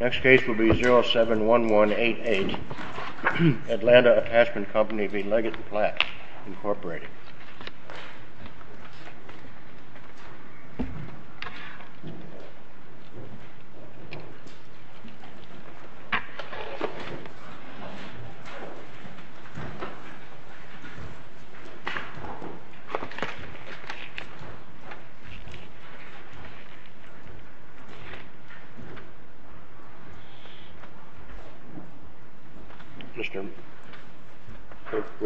Next case will be 071188 Atlanta Attachment Company v. Leggett & Platt, Incorporated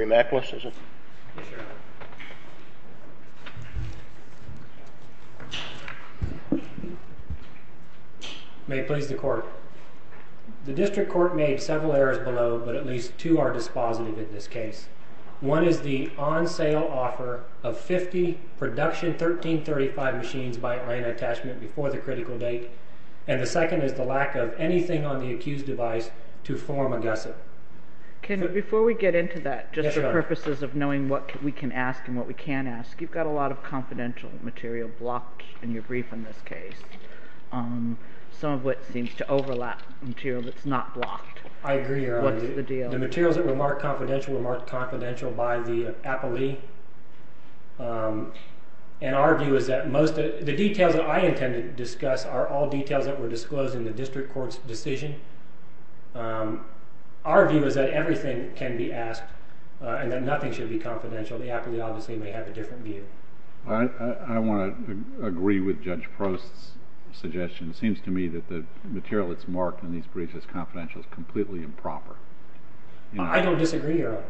May it please the Court, The District Court made several errors below, but at least two are dispositive in this case. One is the on-sale offer of 50 production 1335 machines by Atlanta Attachment before the critical date, and the second is the lack of anything on the accused device to form a gusset. Before we get into that, just for purposes of knowing what we can ask and what we can't ask, you've got a lot of confidential material blocked in your brief in this case. Some of what seems to overlap material that's not blocked. What's the deal? The materials that were marked confidential were marked confidential by the appellee. The details that I intend to discuss are all details that were disclosed in the District Court's decision. Our view is that everything can be asked and that nothing should be confidential. The appellee obviously may have a different view. I want to agree with Judge Prost's suggestion. It seems to me that the material that's marked in these briefs as confidential is completely improper. I don't disagree, Your Honor.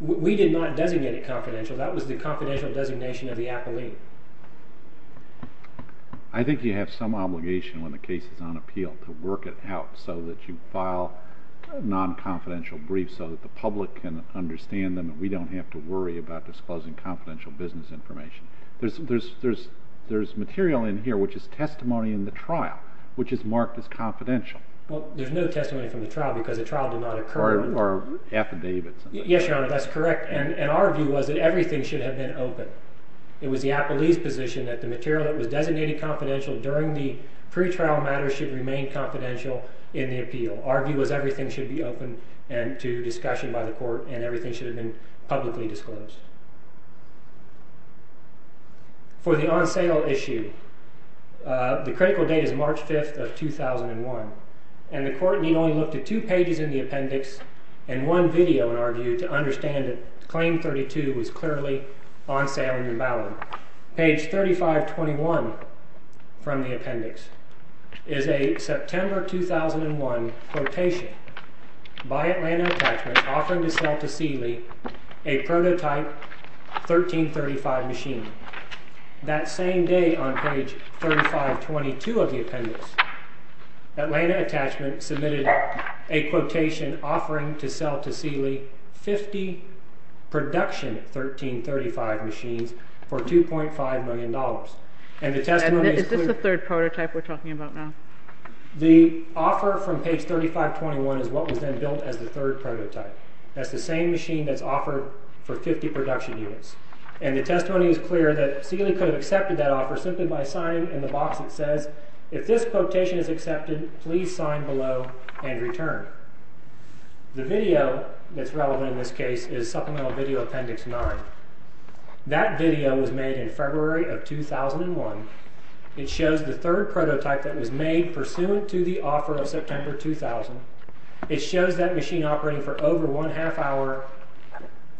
We did not designate it confidential. That was the confidential designation of the appellee. I think you have some obligation when the case is on appeal to work it out so that you file non-confidential briefs so that the public can understand them and we don't have to worry about disclosing confidential business information. There's material in here which is testimony in the trial which is marked as confidential. Well, there's no testimony from the trial because the trial did not occur. Or affidavits. Yes, Your Honor, that's correct. And our view was that everything should have been open. It was the appellee's position that the material that was designated confidential during the pretrial matter should remain confidential in the appeal. Our view was everything should be open to discussion by the court and everything should have been publicly disclosed. For the on-sale issue, the critical date is March 5th of 2001. And the court need only look to two pages in the appendix and one video, in our view, to understand that Claim 32 was clearly on sale and invalid. Page 3521 from the appendix is a September 2001 quotation by Atlanta Attachment offering to sell to Seeley a prototype 1335 machine. That same day on page 3522 of the appendix, Atlanta Attachment submitted a quotation offering to sell to Seeley 50 production 1335 machines for $2.5 million. Is this the third prototype we're talking about now? The offer from page 3521 is what was then built as the third prototype. That's the same machine that's offered for 50 production units. And the testimony is clear that Seeley could have accepted that offer simply by signing in the box that says, If this quotation is accepted, please sign below and return. The video that's relevant in this case is Supplemental Video Appendix 9. That video was made in February of 2001. It shows the third prototype that was made pursuant to the offer of September 2000. It shows that machine operating for over one half hour,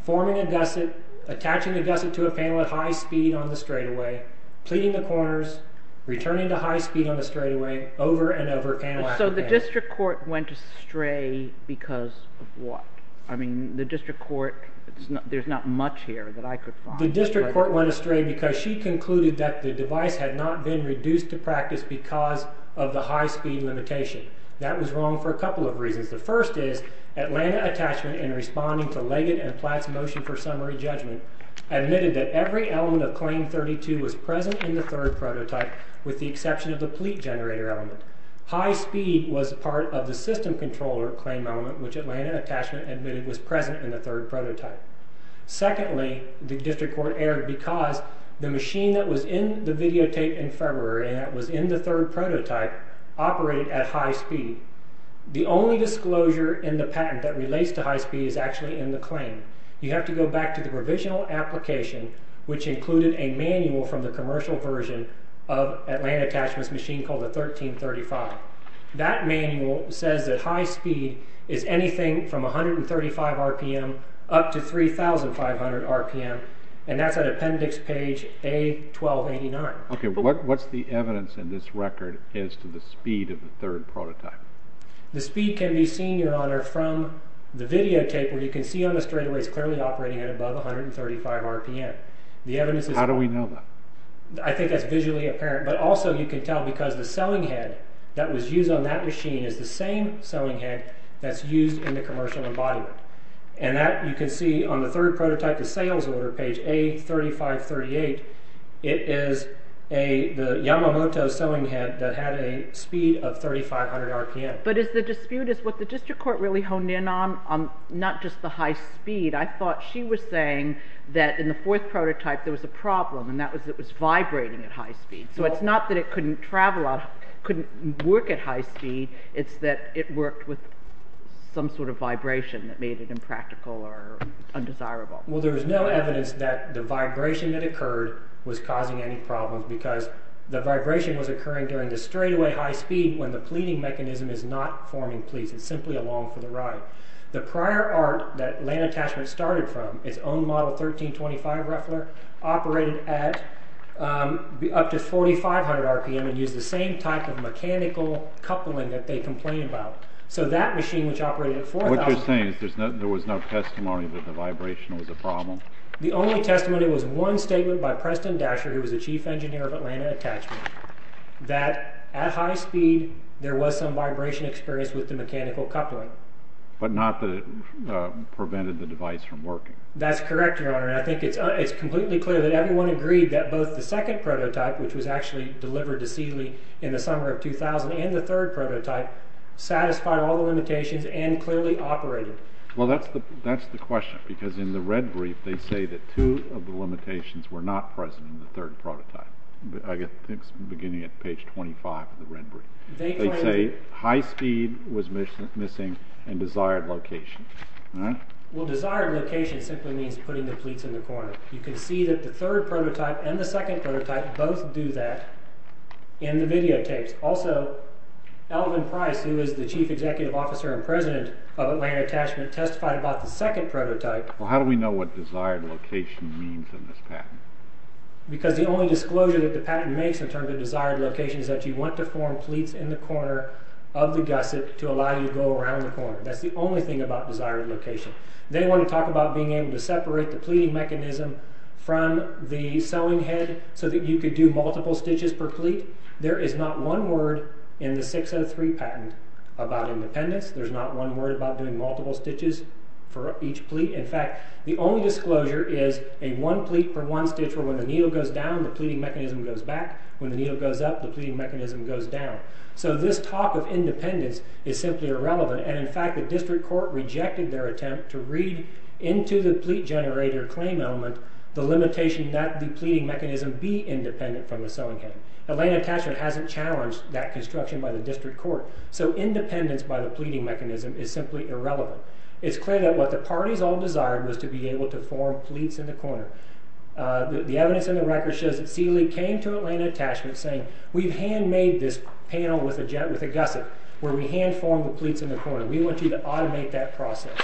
forming a gusset, attaching a gusset to a panel at high speed on the straightaway, pleading the coroners, returning to high speed on the straightaway, over and over panel after panel. So the district court went astray because of what? I mean, the district court, there's not much here that I could find. The district court went astray because she concluded that the device had not been reduced to practice because of the high speed limitation. That was wrong for a couple of reasons. The first is Atlanta Attachment, in responding to Leggett and Platt's motion for summary judgment, admitted that every element of claim 32 was present in the third prototype, with the exception of the pleat generator element. High speed was part of the system controller claim element, which Atlanta Attachment admitted was present in the third prototype. Secondly, the district court erred because the machine that was in the videotape in February, that was in the third prototype, operated at high speed. The only disclosure in the patent that relates to high speed is actually in the claim. You have to go back to the provisional application, which included a manual from the commercial version of Atlanta Attachment's machine called the 1335. That manual says that high speed is anything from 135 RPM up to 3,500 RPM, and that's at appendix page A1289. Okay, what's the evidence in this record as to the speed of the third prototype? The speed can be seen, Your Honor, from the videotape where you can see on the straightaway it's clearly operating at above 135 RPM. How do we know that? I think that's visually apparent, but also you can tell because the selling head that was used on that machine is the same selling head that's used in the commercial embodiment. You can see on the third prototype, the sales order page A3538, it is the Yamamoto selling head that had a speed of 3,500 RPM. But the dispute is what the district court really honed in on, not just the high speed. I thought she was saying that in the fourth prototype there was a problem, and that was it was vibrating at high speed. So it's not that it couldn't work at high speed, it's that it worked with some sort of vibration that made it impractical or undesirable. Well, there's no evidence that the vibration that occurred was causing any problems because the vibration was occurring during the straightaway high speed when the pleating mechanism is not forming pleats. It's simply along for the ride. The prior art that Atlanta Attachment started from, its own model 1325 Ruffler, operated at up to 4,500 RPM and used the same type of mechanical coupling that they complain about. So that machine, which operated at 4,000... What you're saying is there was no testimony that the vibration was a problem? The only testimony was one statement by Preston Dasher, who was the chief engineer of Atlanta Attachment, that at high speed there was some vibration experience with the mechanical coupling. But not that it prevented the device from working. That's correct, Your Honor, and I think it's completely clear that everyone agreed that both the second prototype, which was actually delivered to Seeley in the summer of 2000, and the third prototype, satisfied all the limitations and clearly operated. Well, that's the question, because in the red brief they say that two of the limitations were not present in the third prototype. I think it's beginning at page 25 of the red brief. They say high speed was missing in desired location. Well, desired location simply means putting the pleats in the corner. You can see that the third prototype and the second prototype both do that in the videotapes. Also, Alvin Price, who is the chief executive officer and president of Atlanta Attachment, testified about the second prototype... Well, how do we know what desired location means in this patent? Because the only disclosure that the patent makes in terms of desired location is that you want to form pleats in the corner of the gusset to allow you to go around the corner. That's the only thing about desired location. They want to talk about being able to separate the pleating mechanism from the sewing head so that you could do multiple stitches per pleat. There is not one word in the 603 patent about independence. There's not one word about doing multiple stitches for each pleat. In fact, the only disclosure is a one pleat per one stitch where when the needle goes down, the pleating mechanism goes back. When the needle goes up, the pleating mechanism goes down. So this talk of independence is simply irrelevant. In fact, the district court rejected their attempt to read into the pleat generator claim element the limitation that the pleating mechanism be independent from the sewing head. Atlanta Attachment hasn't challenged that construction by the district court. So independence by the pleating mechanism is simply irrelevant. It's clear that what the parties all desired was to be able to form pleats in the corner. The evidence in the record shows that Sealy came to Atlanta Attachment saying, we've handmade this panel with a gusset where we hand form the pleats in the corner. We want you to automate that process.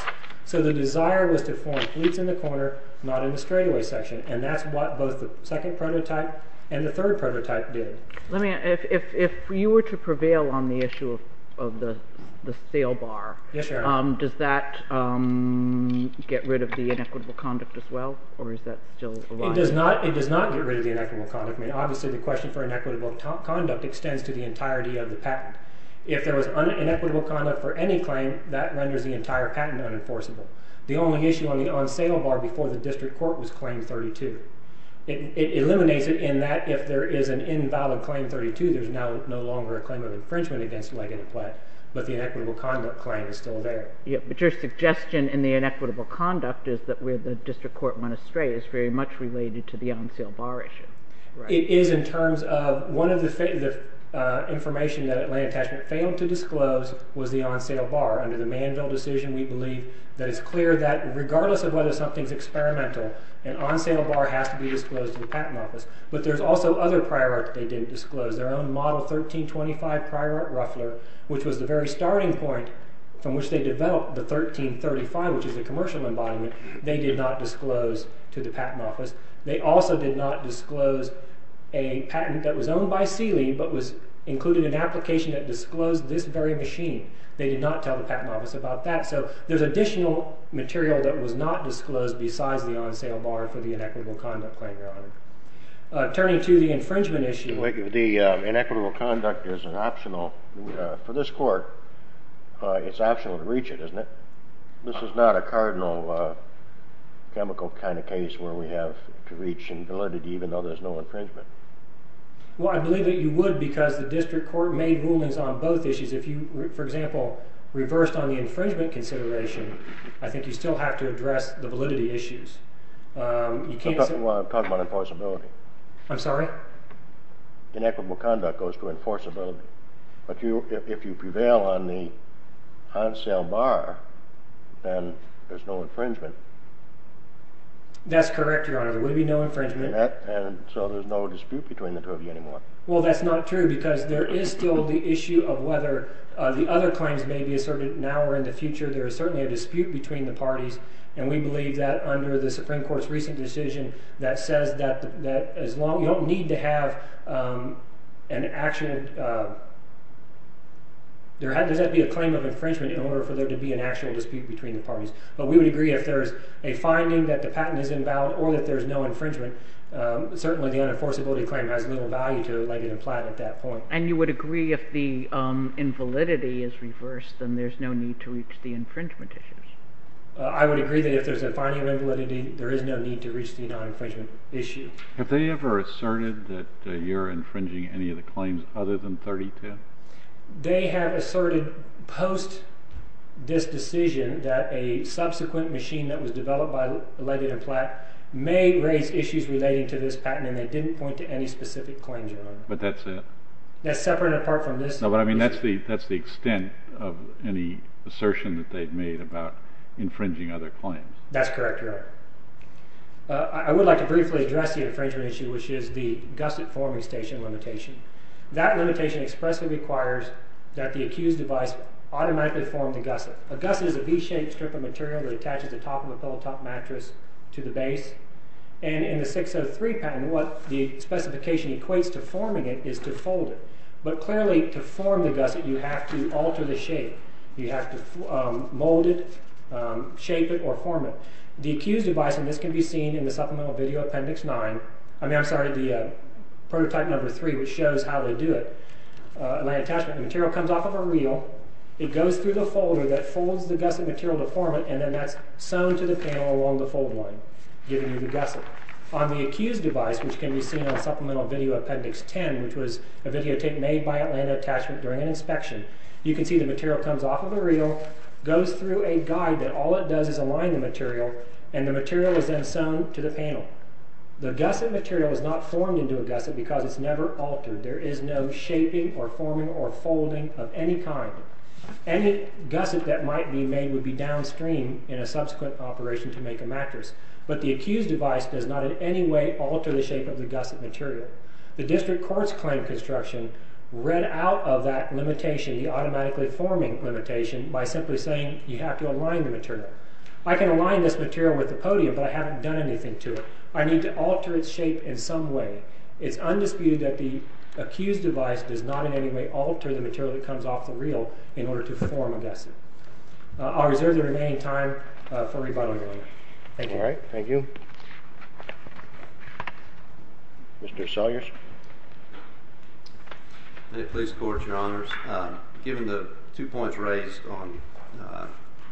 So the desire was to form pleats in the corner, not in the straightaway section. And that's what both the second prototype and the third prototype did. If you were to prevail on the issue of the sale bar, does that get rid of the inequitable conduct as well, or is that still alive? It does not get rid of the inequitable conduct. Obviously, the question for inequitable conduct extends to the entirety of the patent. If there was inequitable conduct for any claim, that renders the entire patent unenforceable. The only issue on sale bar before the district court was claim 32. It eliminates it in that if there is an invalid claim 32, there's no longer a claim of infringement against leg and a pleat, but the inequitable conduct claim is still there. But your suggestion in the inequitable conduct is that where the district court went astray is very much related to the on sale bar issue. It is in terms of one of the information that Atlanta Attachment failed to disclose was the on sale bar. Under the Manville decision, we believe that it's clear that regardless of whether something's experimental, an on sale bar has to be disclosed to the patent office. But there's also other prior art that they didn't disclose. Their own model 1325 prior art ruffler, which was the very starting point from which they developed the 1335, which is a commercial embodiment, they did not disclose to the patent office. They also did not disclose a patent that was owned by Sealy, but was included in an application that disclosed this very machine. They did not tell the patent office about that. So there's additional material that was not disclosed besides the on sale bar for the inequitable conduct claim, Your Honor. Turning to the infringement issue. The inequitable conduct is an optional for this court. It's optional to reach it, isn't it? This is not a cardinal chemical kind of case where we have to reach in validity even though there's no infringement. Well, I believe that you would because the district court made rulings on both issues. If you, for example, reversed on the infringement consideration, I think you still have to address the validity issues. You can't. I'm talking about enforceability. I'm sorry? Inequitable conduct goes to enforceability. But if you prevail on the on sale bar, then there's no infringement. That's correct, Your Honor. There would be no infringement. And so there's no dispute between the two of you anymore. Well, that's not true because there is still the issue of whether the other claims may be asserted now or in the future. There is certainly a dispute between the parties. And we believe that under the Supreme Court's recent decision that says that as long as you don't need to have an action, there has to be a claim of infringement in order for there to be an actual dispute between the parties. But we would agree if there's a finding that the patent is invalid or that there's no infringement. Certainly, the unenforceability claim has little value to Ledgett and Platt at that point. And you would agree if the invalidity is reversed, then there's no need to reach the infringement issues? I would agree that if there's a finding of invalidity, there is no need to reach the non-infringement issue. Have they ever asserted that you're infringing any of the claims other than 32? They have asserted post this decision that a subsequent machine that was developed by Ledgett and Platt may raise issues relating to this patent. And they didn't point to any specific claims. But that's it? That's separate and apart from this. No, but I mean that's the extent of any assertion that they've made about infringing other claims. That's correct, Your Honor. I would like to briefly address the infringement issue, which is the gusset forming station limitation. That limitation expressly requires that the accused device automatically form the gusset. A gusset is a V-shaped strip of material that attaches the top of a pillow-top mattress to the base. And in the 603 patent, what the specification equates to forming it is to fold it. But clearly, to form the gusset, you have to alter the shape. You have to mold it, shape it, or form it. The accused device, and this can be seen in the Supplemental Video Appendix 9. I mean, I'm sorry, the Prototype No. 3, which shows how they do it. Atlanta Attachment. The material comes off of a reel. It goes through the folder that folds the gusset material to form it. And then that's sewn to the panel along the fold line, giving you the gusset. On the accused device, which can be seen on Supplemental Video Appendix 10, which was a videotape made by Atlanta Attachment during an inspection, you can see the material comes off of a reel, goes through a guide that all it does is align the material, and the material is then sewn to the panel. The gusset material is not formed into a gusset because it's never altered. There is no shaping or forming or folding of any kind. Any gusset that might be made would be downstream in a subsequent operation to make a mattress. But the accused device does not in any way alter the shape of the gusset material. The district court's claim construction read out of that limitation, the automatically forming limitation, by simply saying you have to align the material. I can align this material with the podium, but I haven't done anything to it. I need to alter its shape in some way. It's undisputed that the accused device does not in any way alter the material that comes off the reel in order to form a gusset. I'll reserve the remaining time for rebuttal. Thank you. All right, thank you. Mr. Sawyers. Many pleas to the Court, Your Honors. Given the two points raised on the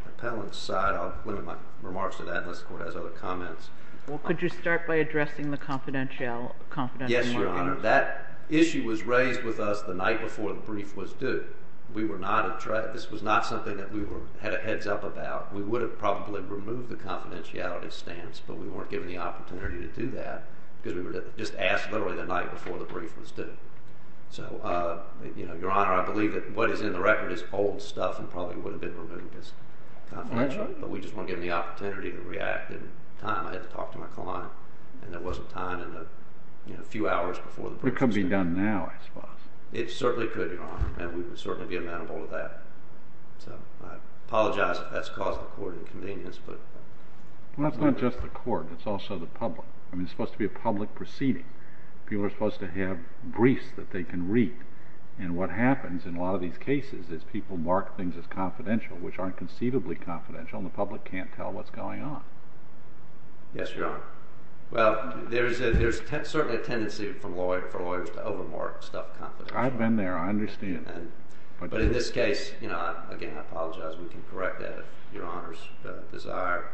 appellant's side, I'll limit my remarks to that unless the Court has other comments. Well, could you start by addressing the confidentiality? Yes, Your Honor. That issue was raised with us the night before the brief was due. This was not something that we had a heads-up about. We would have probably removed the confidentiality stance, but we weren't given the opportunity to do that because we were just asked literally the night before the brief was due. So, Your Honor, I believe that what is in the record is old stuff and probably would have been removed as confidential, but we just weren't given the opportunity to react in time. I had to talk to my client, and there wasn't time in the few hours before the brief was due. It could be done now, I suppose. It certainly could, Your Honor, and we would certainly be amenable to that. So I apologize if that's caused the Court inconvenience. Well, it's not just the Court. It's also the public. I mean, it's supposed to be a public proceeding. People are supposed to have briefs that they can read, and what happens in a lot of these cases is people mark things as confidential, which aren't conceivably confidential, and the public can't tell what's going on. Yes, Your Honor. Well, there's certainly a tendency for lawyers to overmark stuff confidential. I've been there. I understand. But in this case, again, I apologize. We can correct that if Your Honor's desire.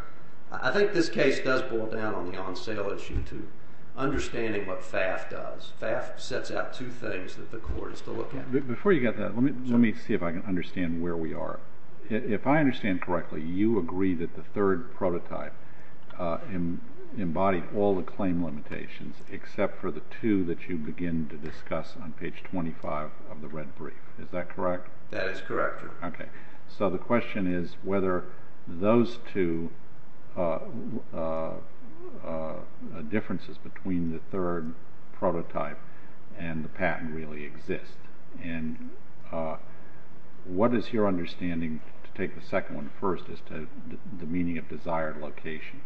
I think this case does boil down on the on-sale issue to understanding what FAF does. FAF sets out two things that the Court is to look at. Before you get to that, let me see if I can understand where we are. If I understand correctly, you agree that the third prototype embodied all the claim limitations except for the two that you begin to discuss on page 25 of the red brief. Is that correct? That is correct, Your Honor. Okay. So the question is whether those two differences between the third prototype and the patent really exist. And what is your understanding, to take the second one first, as to the meaning of desired location?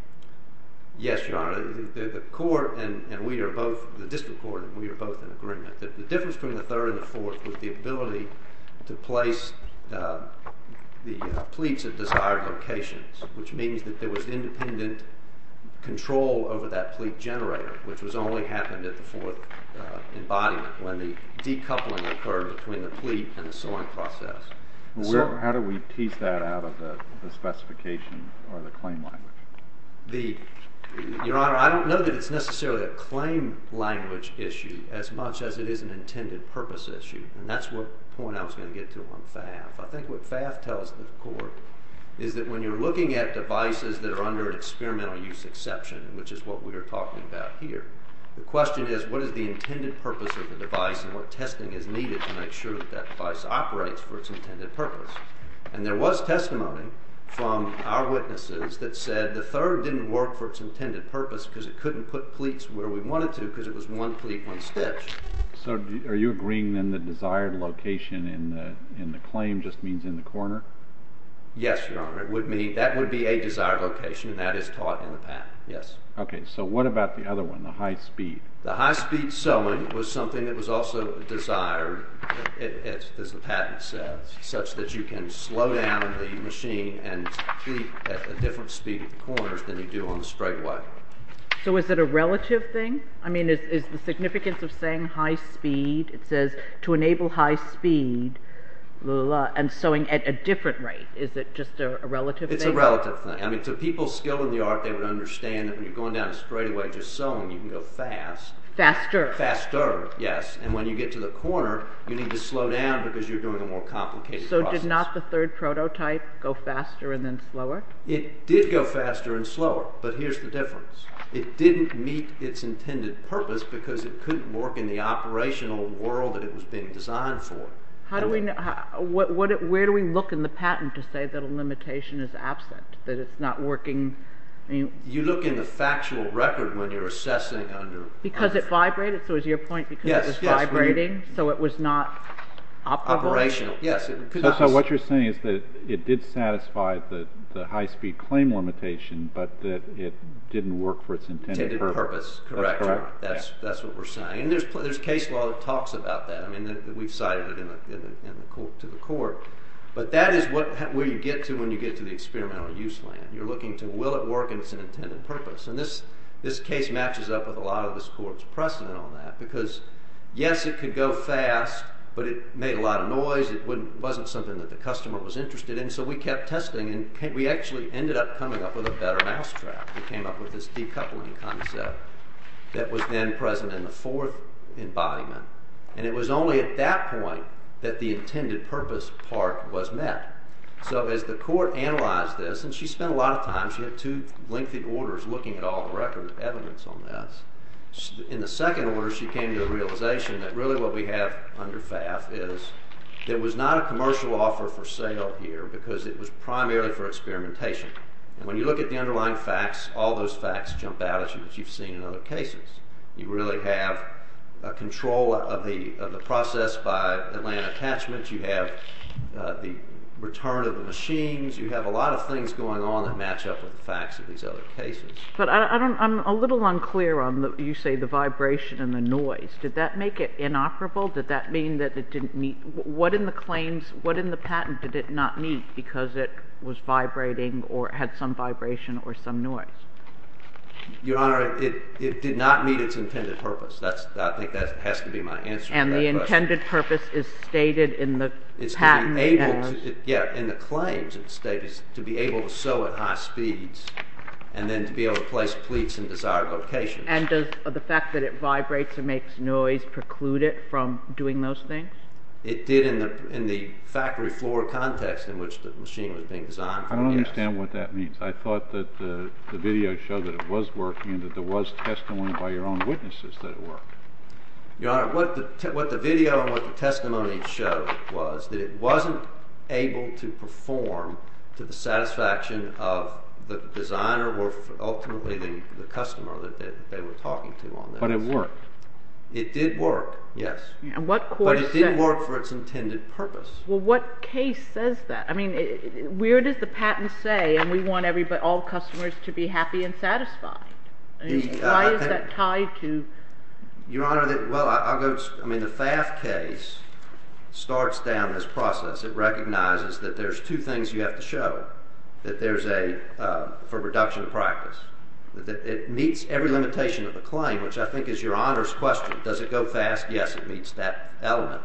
Yes, Your Honor. The court and we are both, the district court and we are both in agreement that the difference between the third and the fourth was the ability to place the pleats at desired locations, which means that there was independent control over that pleat generator, which only happened at the fourth embodiment when the decoupling occurred between the pleat and the sewing process. How do we tease that out of the specification or the claim language? Your Honor, I don't know that it's necessarily a claim language issue as much as it is an intended purpose issue. And that's the point I was going to get to on FAF. I think what FAF tells the court is that when you're looking at devices that are under an experimental use exception, which is what we are talking about here, the question is what is the intended purpose of the device and what testing is needed to make sure that that device operates for its intended purpose. And there was testimony from our witnesses that said the third didn't work for its intended purpose because it couldn't put pleats where we wanted to because it was one pleat, one stitch. So are you agreeing then that desired location in the claim just means in the corner? Yes, Your Honor. It would mean that would be a desired location and that is taught in the patent, yes. Okay, so what about the other one, the high speed? High speed sewing was something that was also desired, as the patent says, such that you can slow down the machine and pleat at a different speed at the corners than you do on the straightaway. So is it a relative thing? I mean is the significance of saying high speed, it says to enable high speed and sewing at a different rate. Is it just a relative thing? It's a relative thing. I mean to people skilled in the art they would understand that when you're going down a straightaway just sewing you can go fast. Faster. Faster, yes, and when you get to the corner you need to slow down because you're doing a more complicated process. So did not the third prototype go faster and then slower? It did go faster and slower, but here's the difference. It didn't meet its intended purpose because it couldn't work in the operational world that it was being designed for. How do we, where do we look in the patent to say that a limitation is absent, that it's not working? You look in the factual record when you're assessing under. Because it vibrated, so is your point because it was vibrating so it was not operational? Operational, yes. So what you're saying is that it did satisfy the high speed claim limitation, but that it didn't work for its intended purpose. Intended purpose, correct. That's what we're saying. And there's case law that talks about that. I mean we've cited it to the court, but that is where you get to when you get to the experimental use land. You're looking to will it work and it's an intended purpose. And this case matches up with a lot of this court's precedent on that. Because yes, it could go fast, but it made a lot of noise. It wasn't something that the customer was interested in. So we kept testing and we actually ended up coming up with a better mousetrap. We came up with this decoupling concept that was then present in the fourth embodiment. And it was only at that point that the intended purpose part was met. So as the court analyzed this, and she spent a lot of time, she had two lengthy orders looking at all the record evidence on this. In the second order, she came to the realization that really what we have under FAF is there was not a commercial offer for sale here because it was primarily for experimentation. And when you look at the underlying facts, all those facts jump out at you as you've seen in other cases. You really have a control of the process by Atlanta Attachments. You have the return of the machines. You have a lot of things going on that match up with the facts of these other cases. But I'm a little unclear on, you say, the vibration and the noise. Did that make it inoperable? Did that mean that it didn't meet? What in the claims, what in the patent did it not meet because it was vibrating or had some vibration or some noise? Your Honor, it did not meet its intended purpose. I think that has to be my answer to that question. Its intended purpose is stated in the patent. Yeah, in the claims it's stated to be able to sew at high speeds and then to be able to place pleats in desired locations. And does the fact that it vibrates and makes noise preclude it from doing those things? It did in the factory floor context in which the machine was being designed. I don't understand what that means. I thought that the video showed that it was working and that there was testimony by your own witnesses that it worked. Your Honor, what the video and what the testimony showed was that it wasn't able to perform to the satisfaction of the designer or ultimately the customer that they were talking to on this. But it worked. It did work, yes. And what court said? But it didn't work for its intended purpose. Well, what case says that? I mean, where does the patent say, and we want all customers to be happy and satisfied? Why is that tied to— Your Honor, well, I'll go—I mean, the FAF case starts down this process. It recognizes that there's two things you have to show, that there's a—for reduction of practice. It meets every limitation of the claim, which I think is Your Honor's question. Does it go fast? Yes, it meets that element.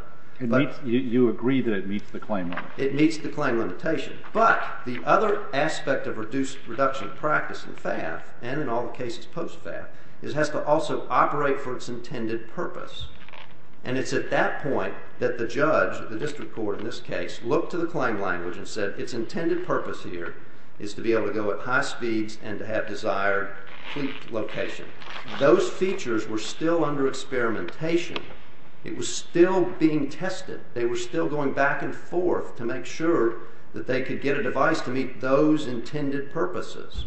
You agree that it meets the claim limit. It meets the claim limitation. But the other aspect of reduced reduction of practice in FAF, and in all the cases post-FAF, is it has to also operate for its intended purpose. And it's at that point that the judge, the district court in this case, looked to the claim language and said its intended purpose here is to be able to go at high speeds and to have desired fleet location. Those features were still under experimentation. It was still being tested. They were still going back and forth to make sure that they could get a device to meet those intended purposes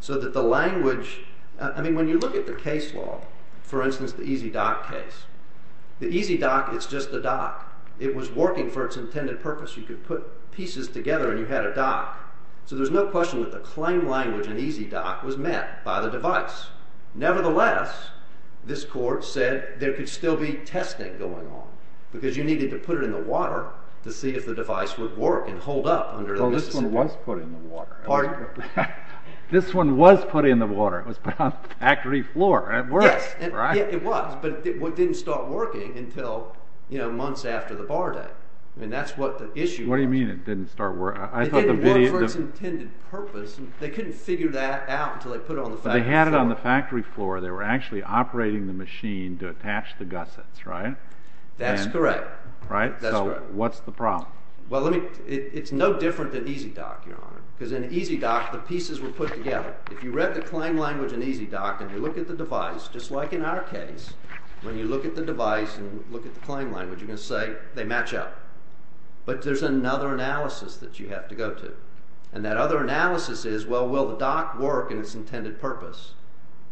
so that the language— I mean, when you look at the case law, for instance, the EASY Dock case, the EASY Dock, it's just a dock. It was working for its intended purpose. You could put pieces together, and you had a dock. So there's no question that the claim language in EASY Dock was met by the device. Nevertheless, this court said there could still be testing going on because you needed to put it in the water to see if the device would work and hold up under— Well, this one was put in the water. Pardon? This one was put in the water. It was put on the factory floor, and it worked, right? Yes, it was, but it didn't start working until months after the bar day. I mean, that's what the issue was. What do you mean it didn't start working? It didn't work for its intended purpose. They couldn't figure that out until they put it on the factory floor. So they had it on the factory floor. They were actually operating the machine to attach the gussets, right? That's correct. Right? That's correct. So what's the problem? Well, let me—it's no different than EASY Dock, Your Honor, because in EASY Dock, the pieces were put together. If you read the claim language in EASY Dock and you look at the device, just like in our case, when you look at the device and look at the claim language, you're going to say they match up. But there's another analysis that you have to go to. And that other analysis is, well, will the dock work in its intended purpose?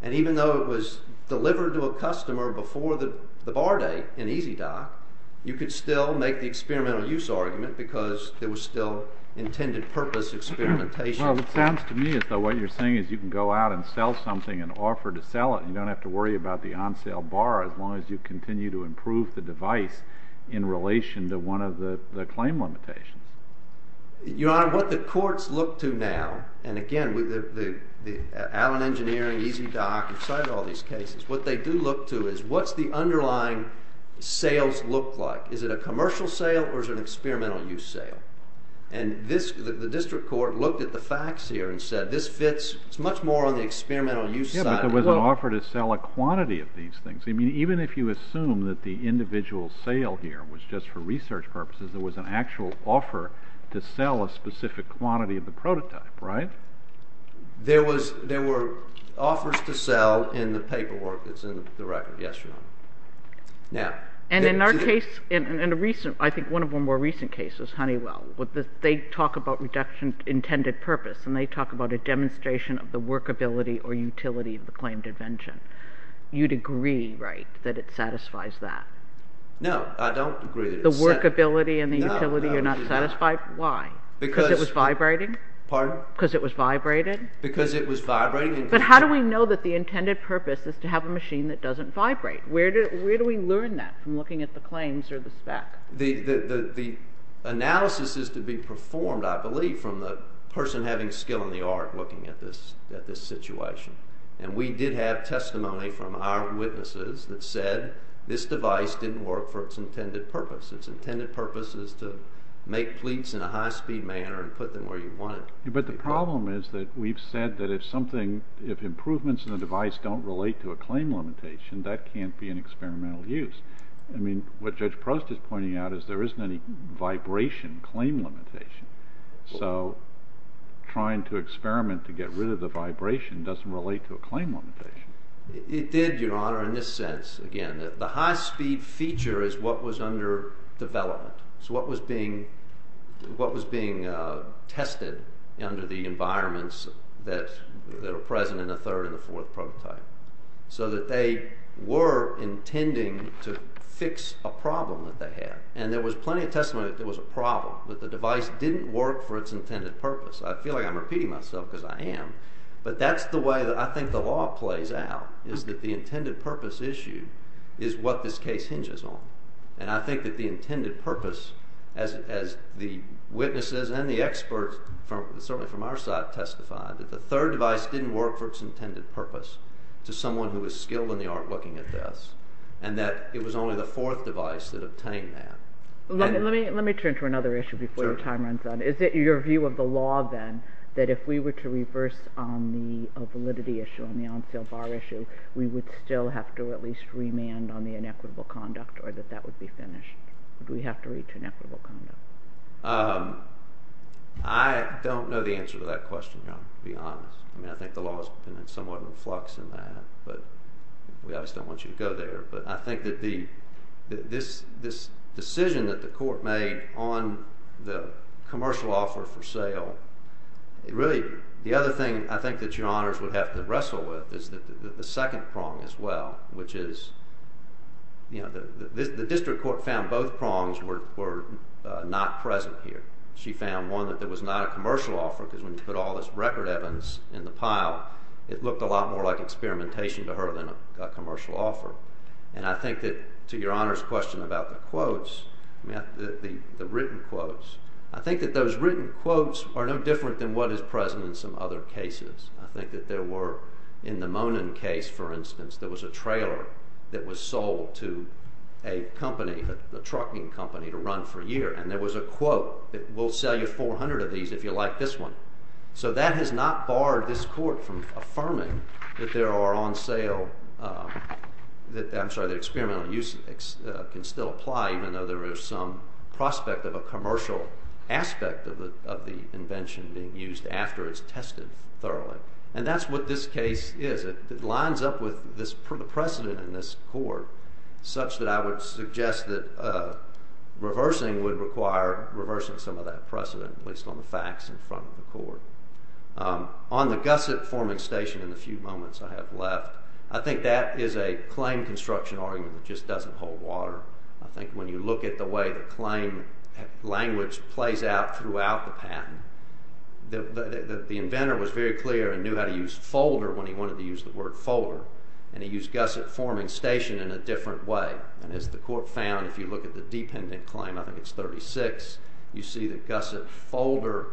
And even though it was delivered to a customer before the bar day in EASY Dock, you could still make the experimental use argument because there was still intended purpose experimentation. Well, it sounds to me as though what you're saying is you can go out and sell something and offer to sell it, and you don't have to worry about the on-sale bar as long as you continue to improve the device in relation to one of the claim limitations. Your Honor, what the courts look to now—and again, the Allen Engineering, EASY Dock, inside all these cases—what they do look to is what's the underlying sales look like? Is it a commercial sale or is it an experimental use sale? And this—the district court looked at the facts here and said this fits—it's much more on the experimental use side. Yeah, but there was an offer to sell a quantity of these things. I mean, even if you assume that the individual sale here was just for research purposes, there was an actual offer to sell a specific quantity of the prototype, right? There were offers to sell in the paperwork that's in the record. Yes, Your Honor. And in our case, in a recent—I think one of our more recent cases, Honeywell, they talk about reduction intended purpose, and they talk about a demonstration of the workability or utility of the claimed invention. You'd agree, right, that it satisfies that? No, I don't agree. The workability and the utility are not satisfied? No, I do not. Why? Because it was vibrating? Pardon? Because it was vibrating? Because it was vibrating. But how do we know that the intended purpose is to have a machine that doesn't vibrate? Where do we learn that from looking at the claims or the spec? The analysis is to be performed, I believe, from the person having skill in the art looking at this situation. And we did have testimony from our witnesses that said this device didn't work for its intended purpose. Its intended purpose is to make pleats in a high-speed manner and put them where you want it. But the problem is that we've said that if improvements in the device don't relate to a claim limitation, that can't be an experimental use. I mean, what Judge Proust is pointing out is there isn't any vibration claim limitation. So trying to experiment to get rid of the vibration doesn't relate to a claim limitation. It did, Your Honor, in this sense. Again, the high-speed feature is what was under development. So what was being tested under the environments that are present in the third and the fourth prototype. So that they were intending to fix a problem that they had. And there was plenty of testimony that there was a problem, that the device didn't work for its intended purpose. I feel like I'm repeating myself because I am. But that's the way that I think the law plays out, is that the intended purpose issue is what this case hinges on. And I think that the intended purpose, as the witnesses and the experts, certainly from our side, testified, that the third device didn't work for its intended purpose to someone who was skilled in the art looking at this. And that it was only the fourth device that obtained that. Let me turn to another issue before the time runs out. Is it your view of the law, then, that if we were to reverse on the validity issue, on the on-sale bar issue, we would still have to at least remand on the inequitable conduct or that that would be finished? Would we have to reach inequitable conduct? I don't know the answer to that question, Your Honor, to be honest. I mean, I think the law is somewhat in flux in that. But we obviously don't want you to go there. But I think that this decision that the court made on the commercial offer for sale, really the other thing I think that Your Honors would have to wrestle with is the second prong as well, which is the district court found both prongs were not present here. She found, one, that there was not a commercial offer because when you put all this record evidence in the pile, it looked a lot more like experimentation to her than a commercial offer. And I think that, to Your Honor's question about the quotes, the written quotes, I think that those written quotes are no different than what is present in some other cases. I think that there were, in the Monin case, for instance, there was a trailer that was sold to a company, a trucking company, to run for a year. And there was a quote, we'll sell you 400 of these if you like this one. So that has not barred this court from affirming that there are on sale, I'm sorry, that experimental use can still apply even though there is some prospect of a commercial aspect of the invention being used after it's tested thoroughly. And that's what this case is. It lines up with the precedent in this court such that I would suggest that reversing would require reversing some of that precedent, at least on the facts in front of the court. On the gusset forming station in the few moments I have left, I think that is a claim construction argument that just doesn't hold water. I think when you look at the way the claim language plays out throughout the patent, the inventor was very clear and knew how to use folder when he wanted to use the word folder. And he used gusset forming station in a different way. And as the court found, if you look at the dependent claim, I think it's 36, you see the gusset folder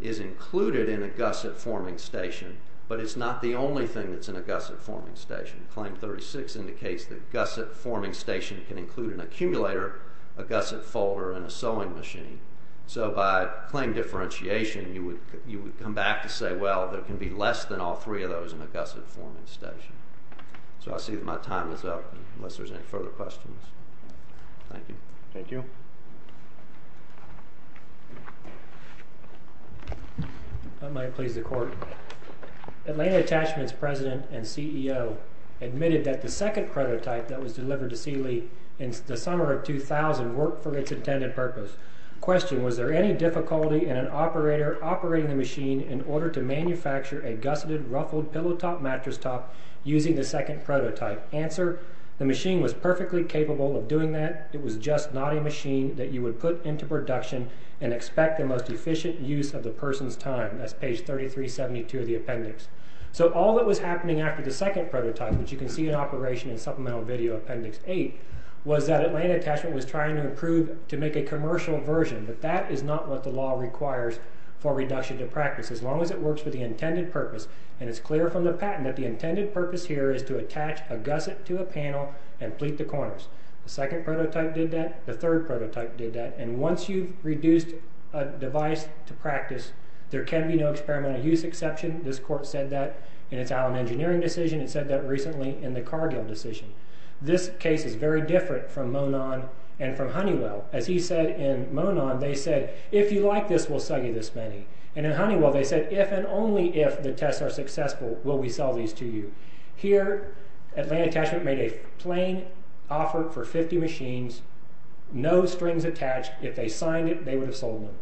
is included in a gusset forming station, but it's not the only thing that's in a gusset forming station. Claim 36 indicates that gusset forming station can include an accumulator, a gusset folder, and a sewing machine. So by claim differentiation, you would come back to say, well, there can be less than all three of those in a gusset forming station. So I see that my time is up, unless there's any further questions. Thank you. Thank you. That might please the court. Atlanta Attachments president and CEO admitted that the second prototype that was delivered to Seeley in the summer of 2000 worked for its intended purpose. Question, was there any difficulty in an operator operating the machine in order to manufacture a gusseted, ruffled pillow top mattress top using the second prototype? Answer, the machine was perfectly capable of doing that. It was just not a machine that you would put into production and expect the most efficient use of the person's time. That's page 3372 of the appendix. So all that was happening after the second prototype, which you can see in operation in supplemental video appendix 8, was that Atlanta Attachment was trying to improve to make a commercial version, but that is not what the law requires for reduction to practice. As long as it works for the intended purpose, and it's clear from the patent that the intended purpose here is to attach a gusset to a panel and pleat the corners. The second prototype did that. The third prototype did that. And once you've reduced a device to practice, there can be no experimental use exception. This court said that in its Allen Engineering decision. It said that recently in the Cargill decision. This case is very different from Monon and from Honeywell. As he said in Monon, they said, If you like this, we'll sell you this many. And in Honeywell, they said, If and only if the tests are successful, will we sell these to you. Here, Atlanta Attachment made a plain offer for 50 machines, no strings attached. If they signed it, they would have sold them.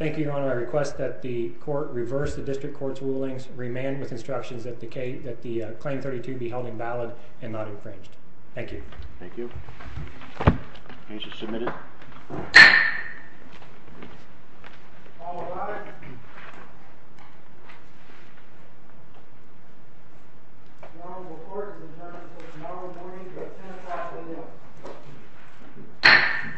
I request that the court reverse the district court's rulings, remand with instructions that the claim 32 be held invalid and not infringed. Thank you. Thank you. Case is submitted. All rise. The honorable court is adjourned until tomorrow morning at 10 o'clock a.m.